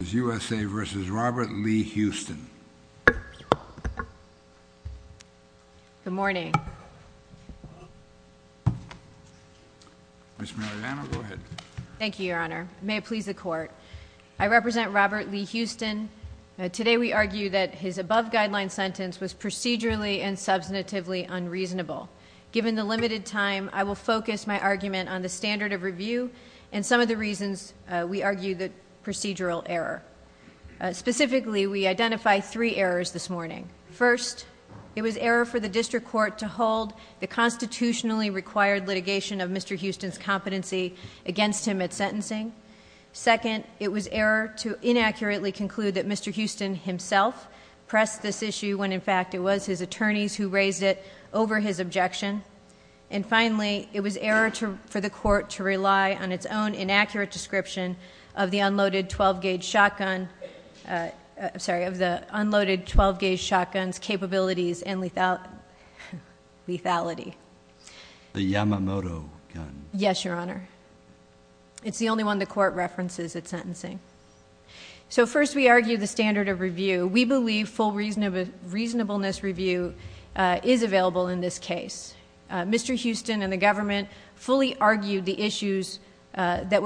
U.S.A. v. Robert Lee Houston Good morning. Thank you, Your Honor. May it please the Court. I represent Robert Lee Houston. Today we argue that his above-guideline sentence was procedurally and substantively unreasonable. Given the limited time, I will focus my argument on the standard of review and some of the reasons we argue the procedural error. Specifically, we identify three errors this morning. First, it was error for the District Court to hold the constitutionally required litigation of Mr. Houston's competency against him at sentencing. Second, it was error to inaccurately conclude that Mr. Houston himself pressed this issue when, in fact, it was his attorneys who raised it over his objection. And finally, it was error for the Court to have the description of the unloaded 12-gauge shotgun's capabilities and lethality. The Yamamoto gun. Yes, Your Honor. It's the only one the Court references at sentencing. So first, we argue the standard of review. We believe full reasonableness review is available in this case. Mr. Houston and the government fully argued the issues that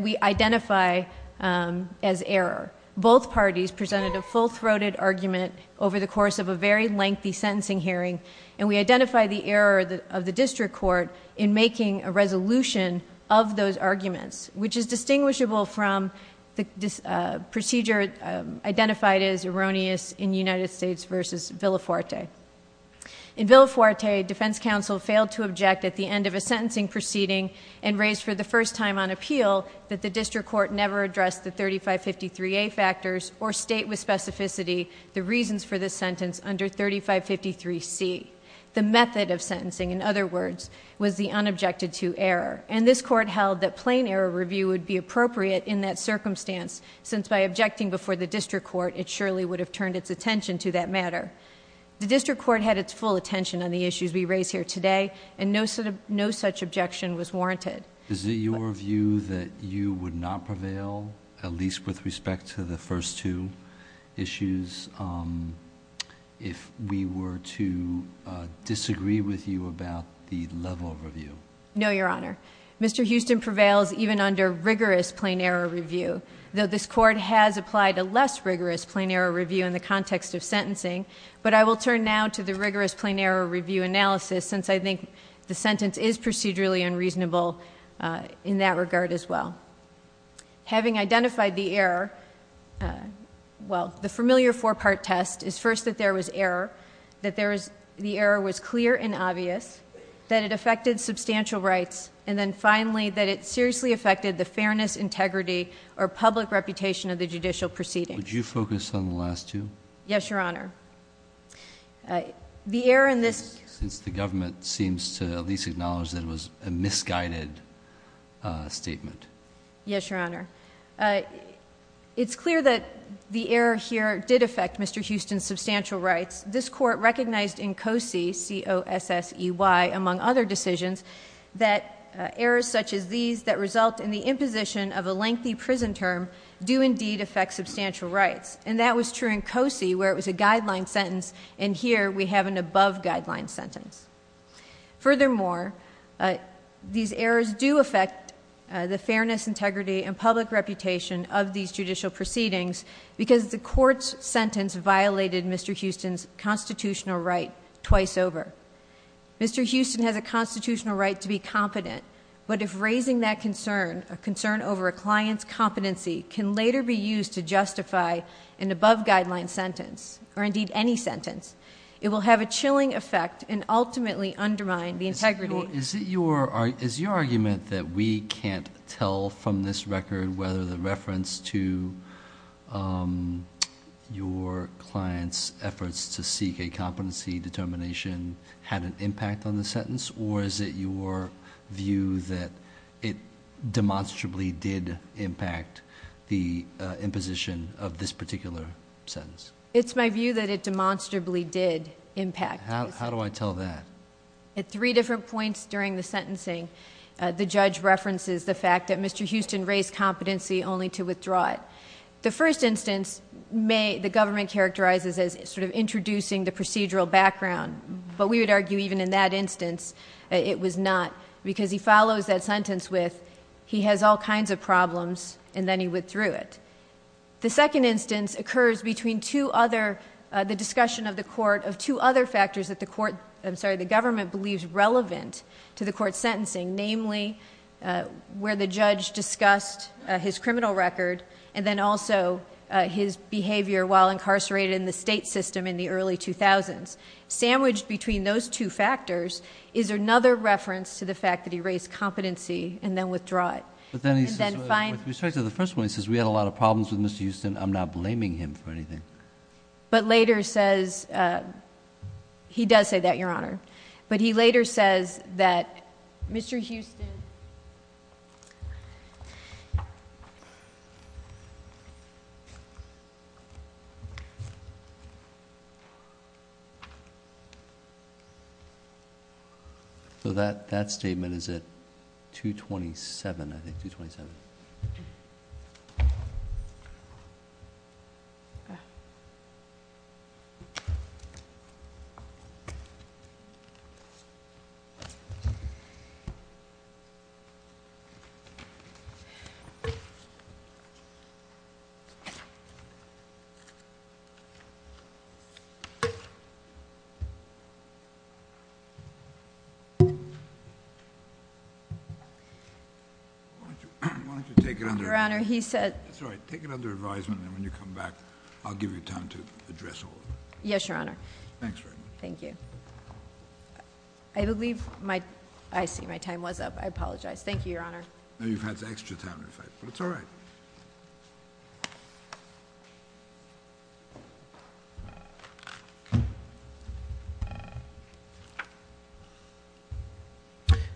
we identify as error. Both parties presented a full-throated argument over the course of a very lengthy sentencing hearing, and we identify the error of the District Court in making a resolution of those arguments, which is distinguishable from the procedure identified as erroneous in United States v. Villafuerte. In Villafuerte, defense counsel failed to object at the end of a sentencing proceeding and raised for the first time on appeal that the District Court never addressed the 3553A factors or state with specificity the reasons for this sentence under 3553C. The method of sentencing, in other words, was the unobjected to error. And this Court held that plain error review would be appropriate in that circumstance, since by objecting before the District Court, it surely would have turned its attention to that matter. The District Court had its full attention on the matter, and no such objection was warranted. Is it your view that you would not prevail, at least with respect to the first two issues, if we were to disagree with you about the level of review? No, Your Honor. Mr. Houston prevails even under rigorous plain error review, though this Court has applied a less rigorous plain error review in the context of sentencing. But I will turn now to the rigorous plain error review analysis, since I think the sentence is procedurally unreasonable in that regard as well. Having identified the error, well, the familiar four-part test is first that there was error, that the error was clear and obvious, that it affected substantial rights, and then finally that it seriously affected the fairness, integrity, or public reputation of the judicial proceeding. Would you focus on the last two? Yes, Your Honor. Since the government seems to at least acknowledge that it was a misguided statement. Yes, Your Honor. It's clear that the error here did affect Mr. Houston's substantial rights. This Court recognized in COSE, C-O-S-S-E-Y, among other decisions, that errors such as these that result in the imposition of a lengthy prison term do indeed affect substantial rights. And that was true in COSE, where it was a guideline sentence, and here we have an above-guideline sentence. Furthermore, these errors do affect the fairness, integrity, and public reputation of these judicial proceedings, because the Court's sentence violated Mr. Houston's constitutional right twice over. Mr. Houston has a constitutional right to be competent, but if raising that concern, a concern over a client's competency, can later be used to justify an above-guideline sentence, or indeed any sentence, it will have a chilling effect and ultimately undermine the integrity... Is your argument that we can't tell from this record whether the reference to your client's efforts to seek a competency determination had an impact on the sentence, or is it your view that it demonstrably did impact the imposition of this particular sentence? It's my view that it demonstrably did impact. How do I tell that? At three different points during the sentencing, the judge references the fact that Mr. Houston raised competency only to withdraw it. The first instance, the government characterizes as sort of introducing the procedural background, but we would argue even in that instance, it was not, because he follows that there were all kinds of problems and then he withdrew it. The second instance occurs between two other... the discussion of the court of two other factors that the government believes relevant to the court's sentencing, namely where the judge discussed his criminal record and then also his behavior while incarcerated in the state system in the early 2000s. Sandwiched between those two factors is another reference to the fact that he raised competency and then withdrew it. With respect to the first one, he says we had a lot of problems with Mr. Houston. I'm not blaming him for anything. But later says... he does say that, Your Honor. But he later says that Mr. Houston... So that statement is at 227, I think. Why don't you take it under... Your Honor, he said... That's all right. Take it under advisement and when you come back, I'll give you time to address all of it. Yes, Your Honor. Thanks very much. Thank you. I believe my... I see my time was up. I apologize. Thank you, Your Honor. You've had extra time in fact, but it's all right.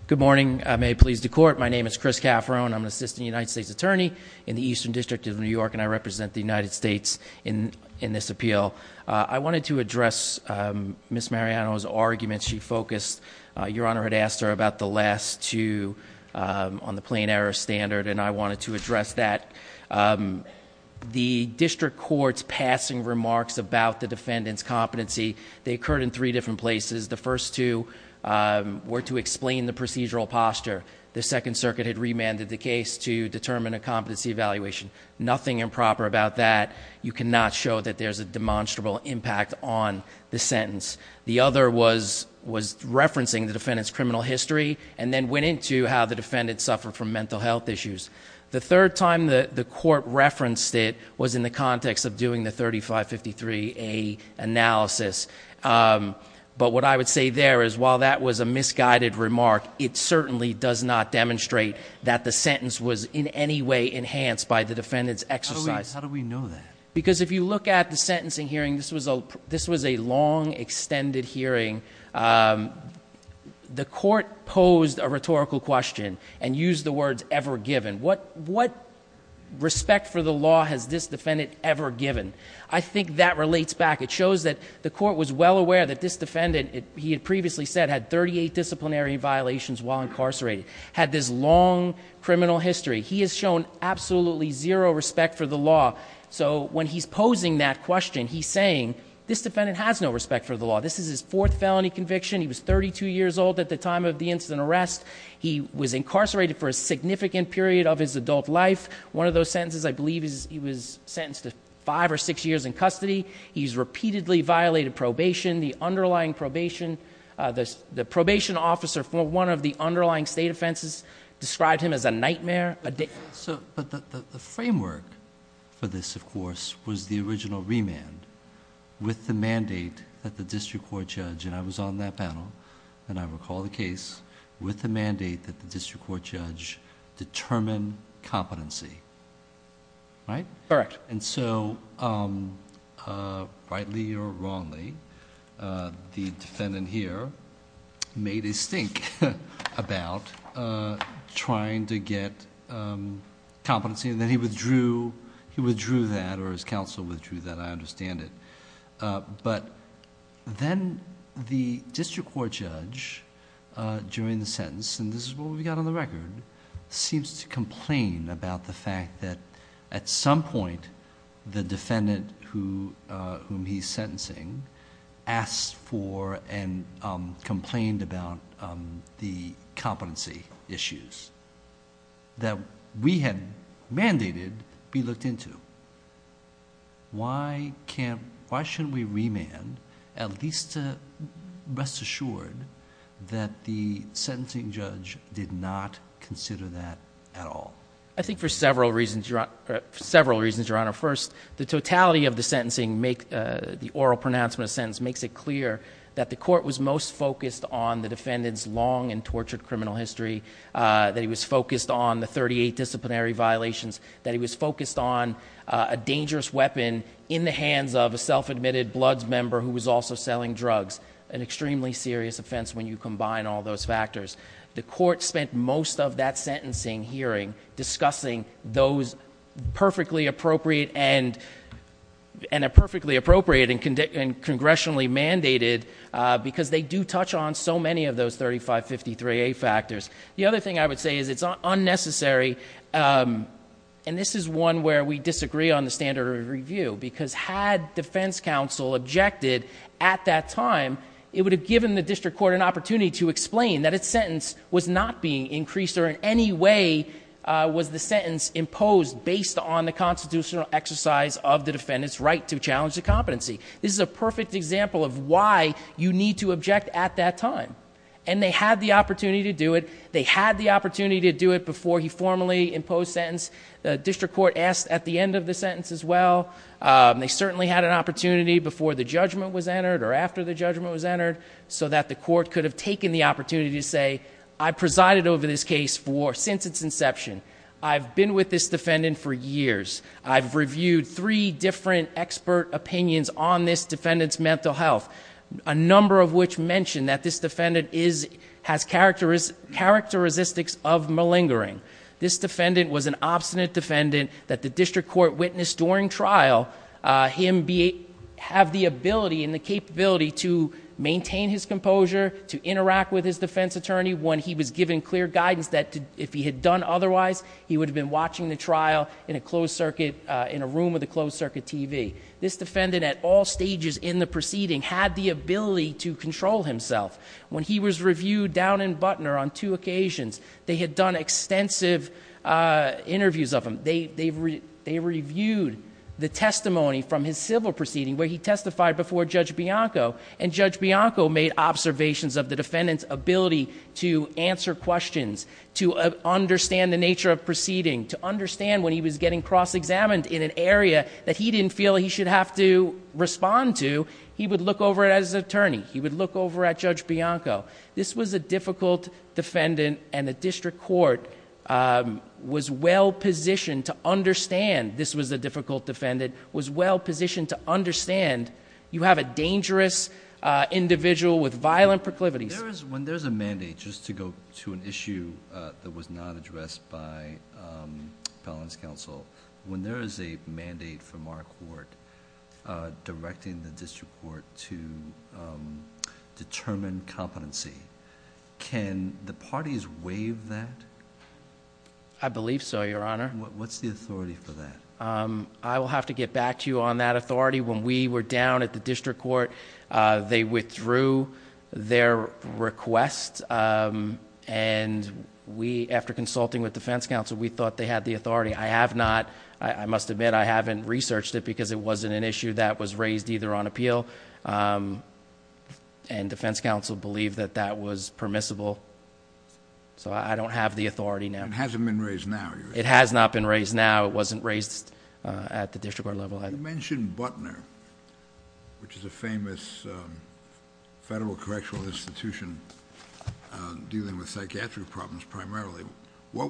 Good morning. May it please the Court. My name is Chris Cafferone. I'm an Assistant United States Attorney in the Eastern District of New York and I represent the United States in this appeal. I wanted to address Ms. Mariano's argument. She focused... Your Honor had asked her about the last two on the plain error standard and I wanted to address that. The District Court's passing remarks about the defendant's competency, they occurred in three different places. The first two were to explain the procedural posture. The Second Circuit had remanded the case to determine a competency evaluation. Nothing improper about that. You cannot show that there's a demonstrable impact on the sentence. The other was referencing the defendant's criminal history and then went into how the defendant suffered from mental health issues. The third time the Court referenced it was in the context of doing the 3553A analysis. But what I would say there is while that was a misguided remark, it certainly does not demonstrate that the sentence was in any way enhanced by the defendant's exercise. How do we know that? Because if you look at the sentencing hearing, this was a long extended hearing. The Court posed a rhetorical question and used the words, ever given. What respect for the law has this defendant ever given? I think that relates back. It shows that the Court was well aware that this defendant, he had previously said, had 38 disciplinary violations while incarcerated. Had this long criminal history. He has shown absolutely zero respect for the law. So when he's posing that question, he's saying, this defendant has no respect for the law. This is his fourth felony conviction. He was 32 years old at the time of the incident arrest. He was incarcerated for a significant period of his adult life. One of those sentences I believe he was sentenced to five or six years in custody. He's repeatedly violated probation. The underlying probation, the probation officer for one of the underlying state offenses described him as a nightmare. But the framework for this of course was the original remand with the mandate that the district court judge, and I was on that panel and I recall the case, with the mandate that the district court judge determine competency. Right? Rightly or wrongly, the defendant here made a stink about trying to get competency and then he withdrew that or his counsel withdrew that. I understand it. But then the district court judge during the sentence, and this is what we've got on the screen, complained about the fact that at some point the defendant whom he's sentencing asked for and complained about the competency issues that we had mandated be looked into. Why shouldn't we remand at least to rest assured that the sentencing judge did not consider that at all? I think for several reasons, Your Honor. First, the totality of the oral pronouncement of the sentence makes it clear that the court was most focused on the defendant's long and tortured criminal history, that he was focused on the thirty-eight disciplinary violations, that he was focused on a dangerous weapon in the hands of a self-admitted bloods member who was also selling drugs. An extremely serious offense when you combine all those factors. The court spent most of that sentencing hearing discussing those perfectly appropriate and congressionally mandated because they do touch on so many of those thirty-five, fifty-three A factors. The other thing I would say is it's unnecessary, and this is one where we disagree on the standard of review because had defense court an opportunity to explain that its sentence was not being increased or in any way was the sentence imposed based on the constitutional exercise of the defendant's right to challenge the competency. This is a perfect example of why you need to object at that time. And they had the opportunity to do it. They had the opportunity to do it before he formally imposed sentence. The district court asked at the end of the sentence as well. They certainly had an opportunity before the judgment was entered or after the judgment was entered so that the court could have taken the opportunity to say I presided over this case since its inception. I've been with this defendant for years. I've reviewed three different expert opinions on this defendant's mental health. A number of which mention that this defendant has characteristics of malingering. This defendant was an obstinate defendant that the district court witnessed during trial. Him have the ability and the capability to maintain his composure, to interact with his defense attorney when he was given clear guidance that if he had done otherwise, he would have been watching the trial in a closed circuit, in a room with a closed circuit TV. This defendant at all stages in the proceeding had the ability to control himself. When he was reviewed down in Butner on two occasions, they had done extensive interviews of him. They reviewed the testimony from his civil proceeding where he testified before Judge Bianco and Judge Bianco made observations of the defendant's ability to answer questions, to understand the nature of proceeding, to understand when he was getting cross examined in an area that he didn't feel he should have to respond to, he would look over at his attorney. He would look over at Judge Bianco. This was a difficult defendant and the district court was well positioned to understand this was a difficult defendant, was well positioned to understand you have a dangerous individual with violent proclivities. When there's a mandate, just to go to an issue that was not addressed by appellant's counsel, when there is a mandate from our court directing the district court to determine competency, can the parties waive that? I believe so, Your Honor. I will have to get back to you on that authority. When we were down at the district court, they withdrew their request and we, after consulting with defense counsel, we thought they had the authority. I have not. I must admit I haven't researched it because it wasn't an issue that was raised either on appeal and defense counsel believed that that was permissible. I don't have the authority now. It hasn't been raised now? It has not been raised now. It wasn't raised at the district court level. You mentioned Butner, which is a famous federal correctional institution dealing with psychiatric problems primarily. Why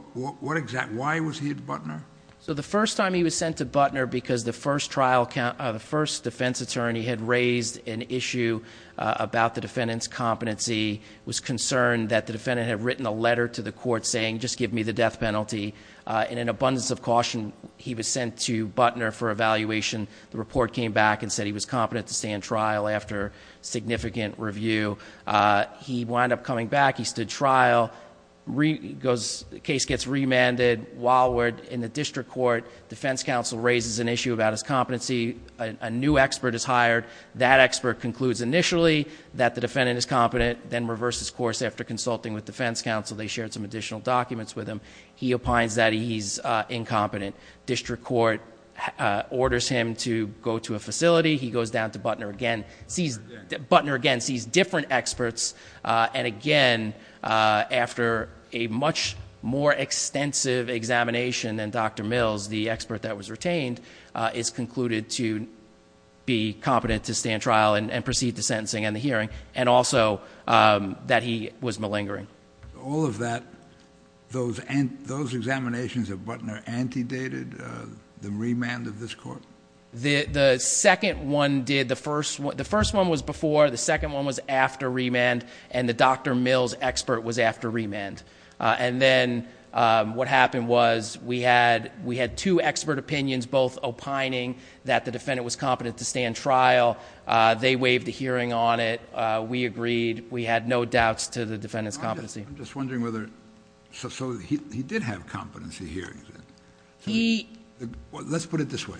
was he at Butner? The first time he was sent to Butner because the first defense attorney had raised an issue about the defendant's competency and that the defendant had written a letter to the court saying, just give me the death penalty. In an abundance of caution, he was sent to Butner for evaluation. The report came back and said he was competent to stand trial after significant review. He wound up coming back. He stood trial. The case gets remanded. While we're in the district court, defense counsel raises an issue about his competency. The defendant is competent, then reverses course after consulting with defense counsel. They shared some additional documents with him. He opines that he's incompetent. District court orders him to go to a facility. He goes down to Butner again. Butner again sees different experts and again, after a much more extensive examination than Dr. Mills, the expert that was retained is concluded to be competent to stand trial and proceed to sentencing and the hearing and also that he was malingering. All of that, those examinations of Butner antedated the remand of this court? The second one did. The first one was before. The second one was after remand and the Dr. Mills expert was after remand. Then what happened was we had two expert opinions both opining that the defendant was competent to stand trial. They waived the hearing on it. We agreed. We had no doubts to the defendant's competency. He did have competency hearings. Let's put it this way.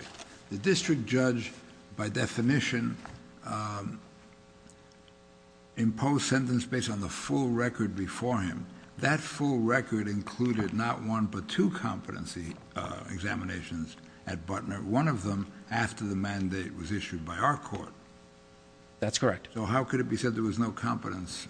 The district judge by definition imposed sentence based on the full record before him. That full record included not one but two competency examinations at Butner. One of them after the mandate was issued by our court. That's correct. So how could it be said there was no competence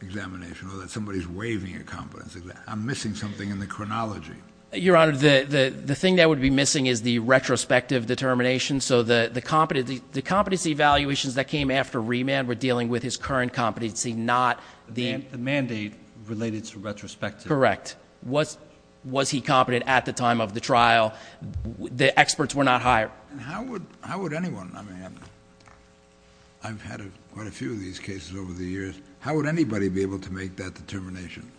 examination or that somebody is waiving a competence exam? I'm missing something in the chronology. Your Honor, the thing that would be missing is the retrospective determination so the competency evaluations that came after remand were dealing with his current competency, not the mandate related to retrospective. Correct. Was he competent at the time of the trial? The experts were not hired. I've had quite a few of these cases over the years. How would anybody be able to make that determination?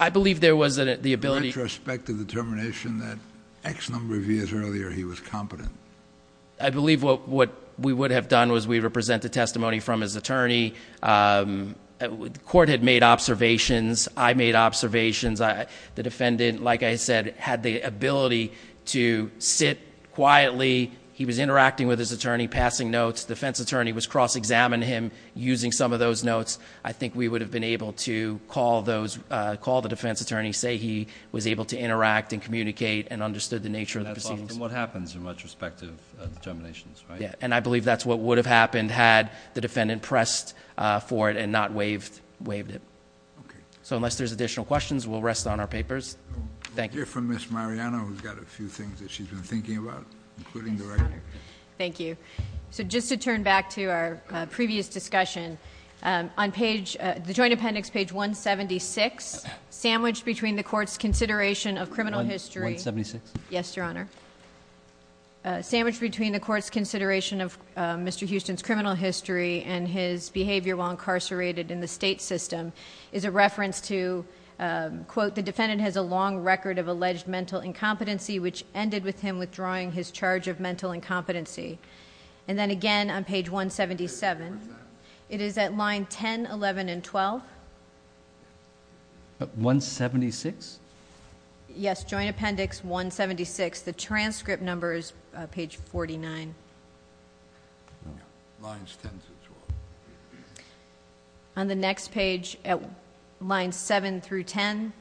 The retrospective determination that X number of years earlier he was competent. I believe what we would have done was we represented testimony from his attorney. The court had made observations. I made observations. The defendant, like I said, was able to sit quietly. He was interacting with his attorney, passing notes. The defense attorney was cross-examining him using some of those notes. I think we would have been able to call the defense attorney, say he was able to interact and communicate and understood the nature of the proceedings. That's often what happens in retrospective determinations, right? I believe that's what would have happened had the defendant pressed for it and not waived it. So unless there's additional questions, we'll rest on our papers. Thank you. Thank you. So just to turn back to our previous discussion, on the joint appendix page 176, sandwiched between the court's consideration of criminal history. Yes, Your Honor. Sandwiched between the court's consideration of Mr. Houston's criminal history and his behavior while incarcerated in the state system is a reference to quote, the defendant has a long record of alleged mental incompetency which ended with him withdrawing his charge of mental incompetency. Then again on page 177, it is at line 10, 11, and 12. 176? Yes, joint appendix 176. The transcript number is page 49. Lines 10 to 12. On the next page at line 7 through 10,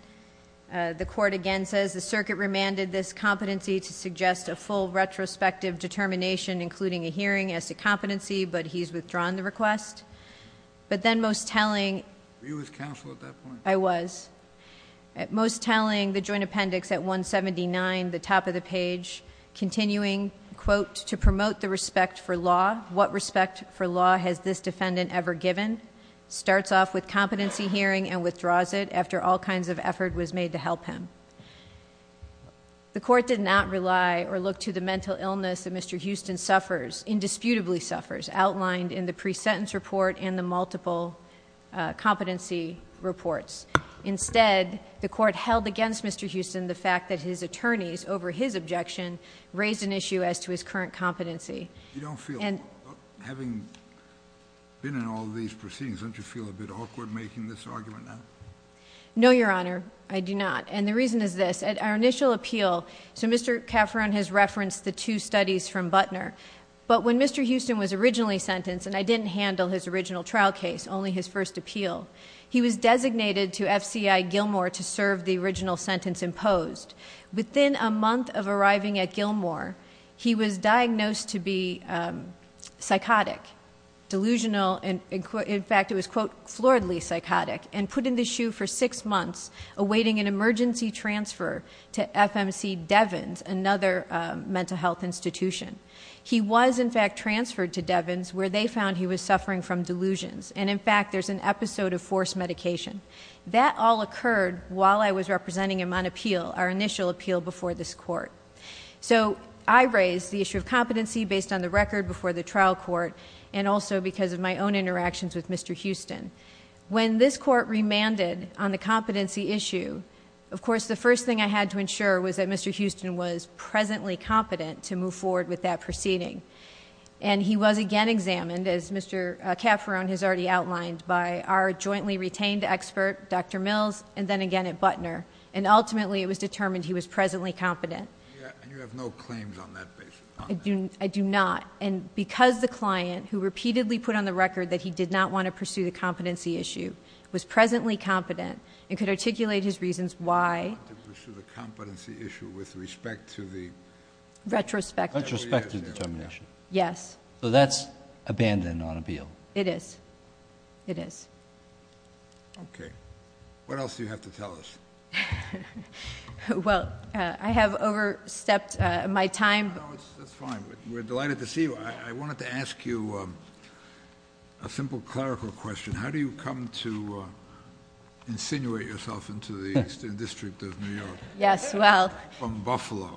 the court again says the circuit remanded this competency to suggest a full retrospective determination including a hearing as to competency, but he's withdrawn the request. But then most telling... Were you with counsel at that point? I was. Most telling, the joint appendix at 179, the top of the page, continuing quote, to promote the respect for law. What respect for law has this defendant ever given? Starts off with competency hearing and withdraws it after all kinds of effort was made to help him. The court did not rely or look to the mental illness that Mr. Houston suffers, indisputably suffers, outlined in the pre-sentence report and the multiple competency reports. Instead, the court held against Mr. Houston the fact that his attorneys, over his objection, raised an issue as to his current competency. You don't feel, having been in all these proceedings, don't you feel a bit awkward making this argument now? No, Your Honor, I do not. And the reason is this, at our initial appeal, so Mr. Cafferon has referenced the two studies from Butner, but when Mr. Houston was originally sentenced, and I didn't handle his original trial case, only his first appeal, he was designated to FCI Gilmore to serve the original sentence imposed. Within a month of arriving at Gilmore, he was diagnosed to be psychotic, delusional, in fact it was quote, floridly psychotic, and put in the shoe for six months, awaiting an emergency transfer to FMC Devins, another mental health institution. He was, in fact, transferred to Devins where they found he was suffering from delusions, and in fact, there's an episode of forced medication. That all occurred while I was representing him on appeal, our initial appeal before this court. So, I raised the issue of competency based on the record before the trial court, and also because of my own interactions with Mr. Houston. When this court remanded on the competency issue, of course, the first thing I had to ensure was that Mr. Houston was presently competent to move forward with that proceeding. And he was again examined, as Mr. Cafferon has already outlined, by our jointly retained expert, Dr. Mills, and then again at Butner. And ultimately, it was determined he was presently competent. And you have no claims on that basis? I do not. And because the client, who repeatedly put on the record that he did not want to pursue the competency issue, was presently competent, and could articulate his reasons why... He wanted to pursue the competency issue with respect to the... Retrospective. Retrospective determination. Yes. So that's abandoned on appeal? It is. It is. Okay. What else do you have to tell us? Well, I have overstepped my time. No, that's fine. We're delighted to see you. I wanted to ask you a simple clerical question. How do you come to insinuate yourself into the Eastern District of New York? Yes, well... From Buffalo.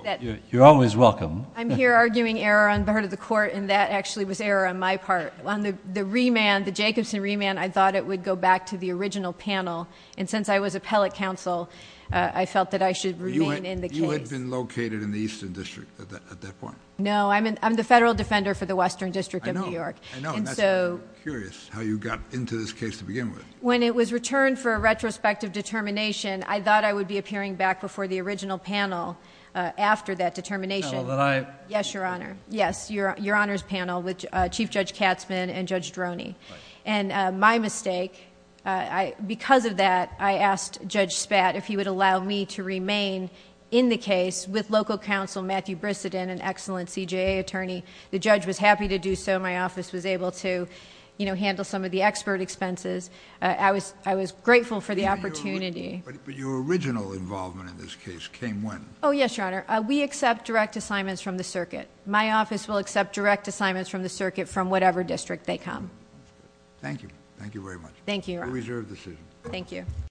You're always welcome. I'm here arguing error on the part of the court, and that actually was error on my part. On the remand, the Jacobson remand, I thought it would go back to the original panel. And since I was appellate counsel, I felt that I should remain in the case. You had been located in the Eastern District at that point? No, I'm the Federal Defender for the Western District of New York. I know, and that's why I'm curious how you got into this case to begin with. When it was returned for a retrospective determination, I thought I would be appearing back before the original panel after that determination. No, but I... Yes, Your Honor. Yes, Your Honor's panel with Chief Judge Katzman and Judge Droney. And my response to that, I asked Judge Spat if he would allow me to remain in the case with local counsel Matthew Brisseton, an excellent CJA attorney. The judge was happy to do so. My office was able to handle some of the expert expenses. I was grateful for the opportunity. But your original involvement in this case came when? Oh, yes, Your Honor. We accept direct assignments from the circuit. My office will accept direct assignments from the circuit from whatever district they come. Thank you. Thank you very much. Thank you, Your Honor. You're reserved this evening. Thank you.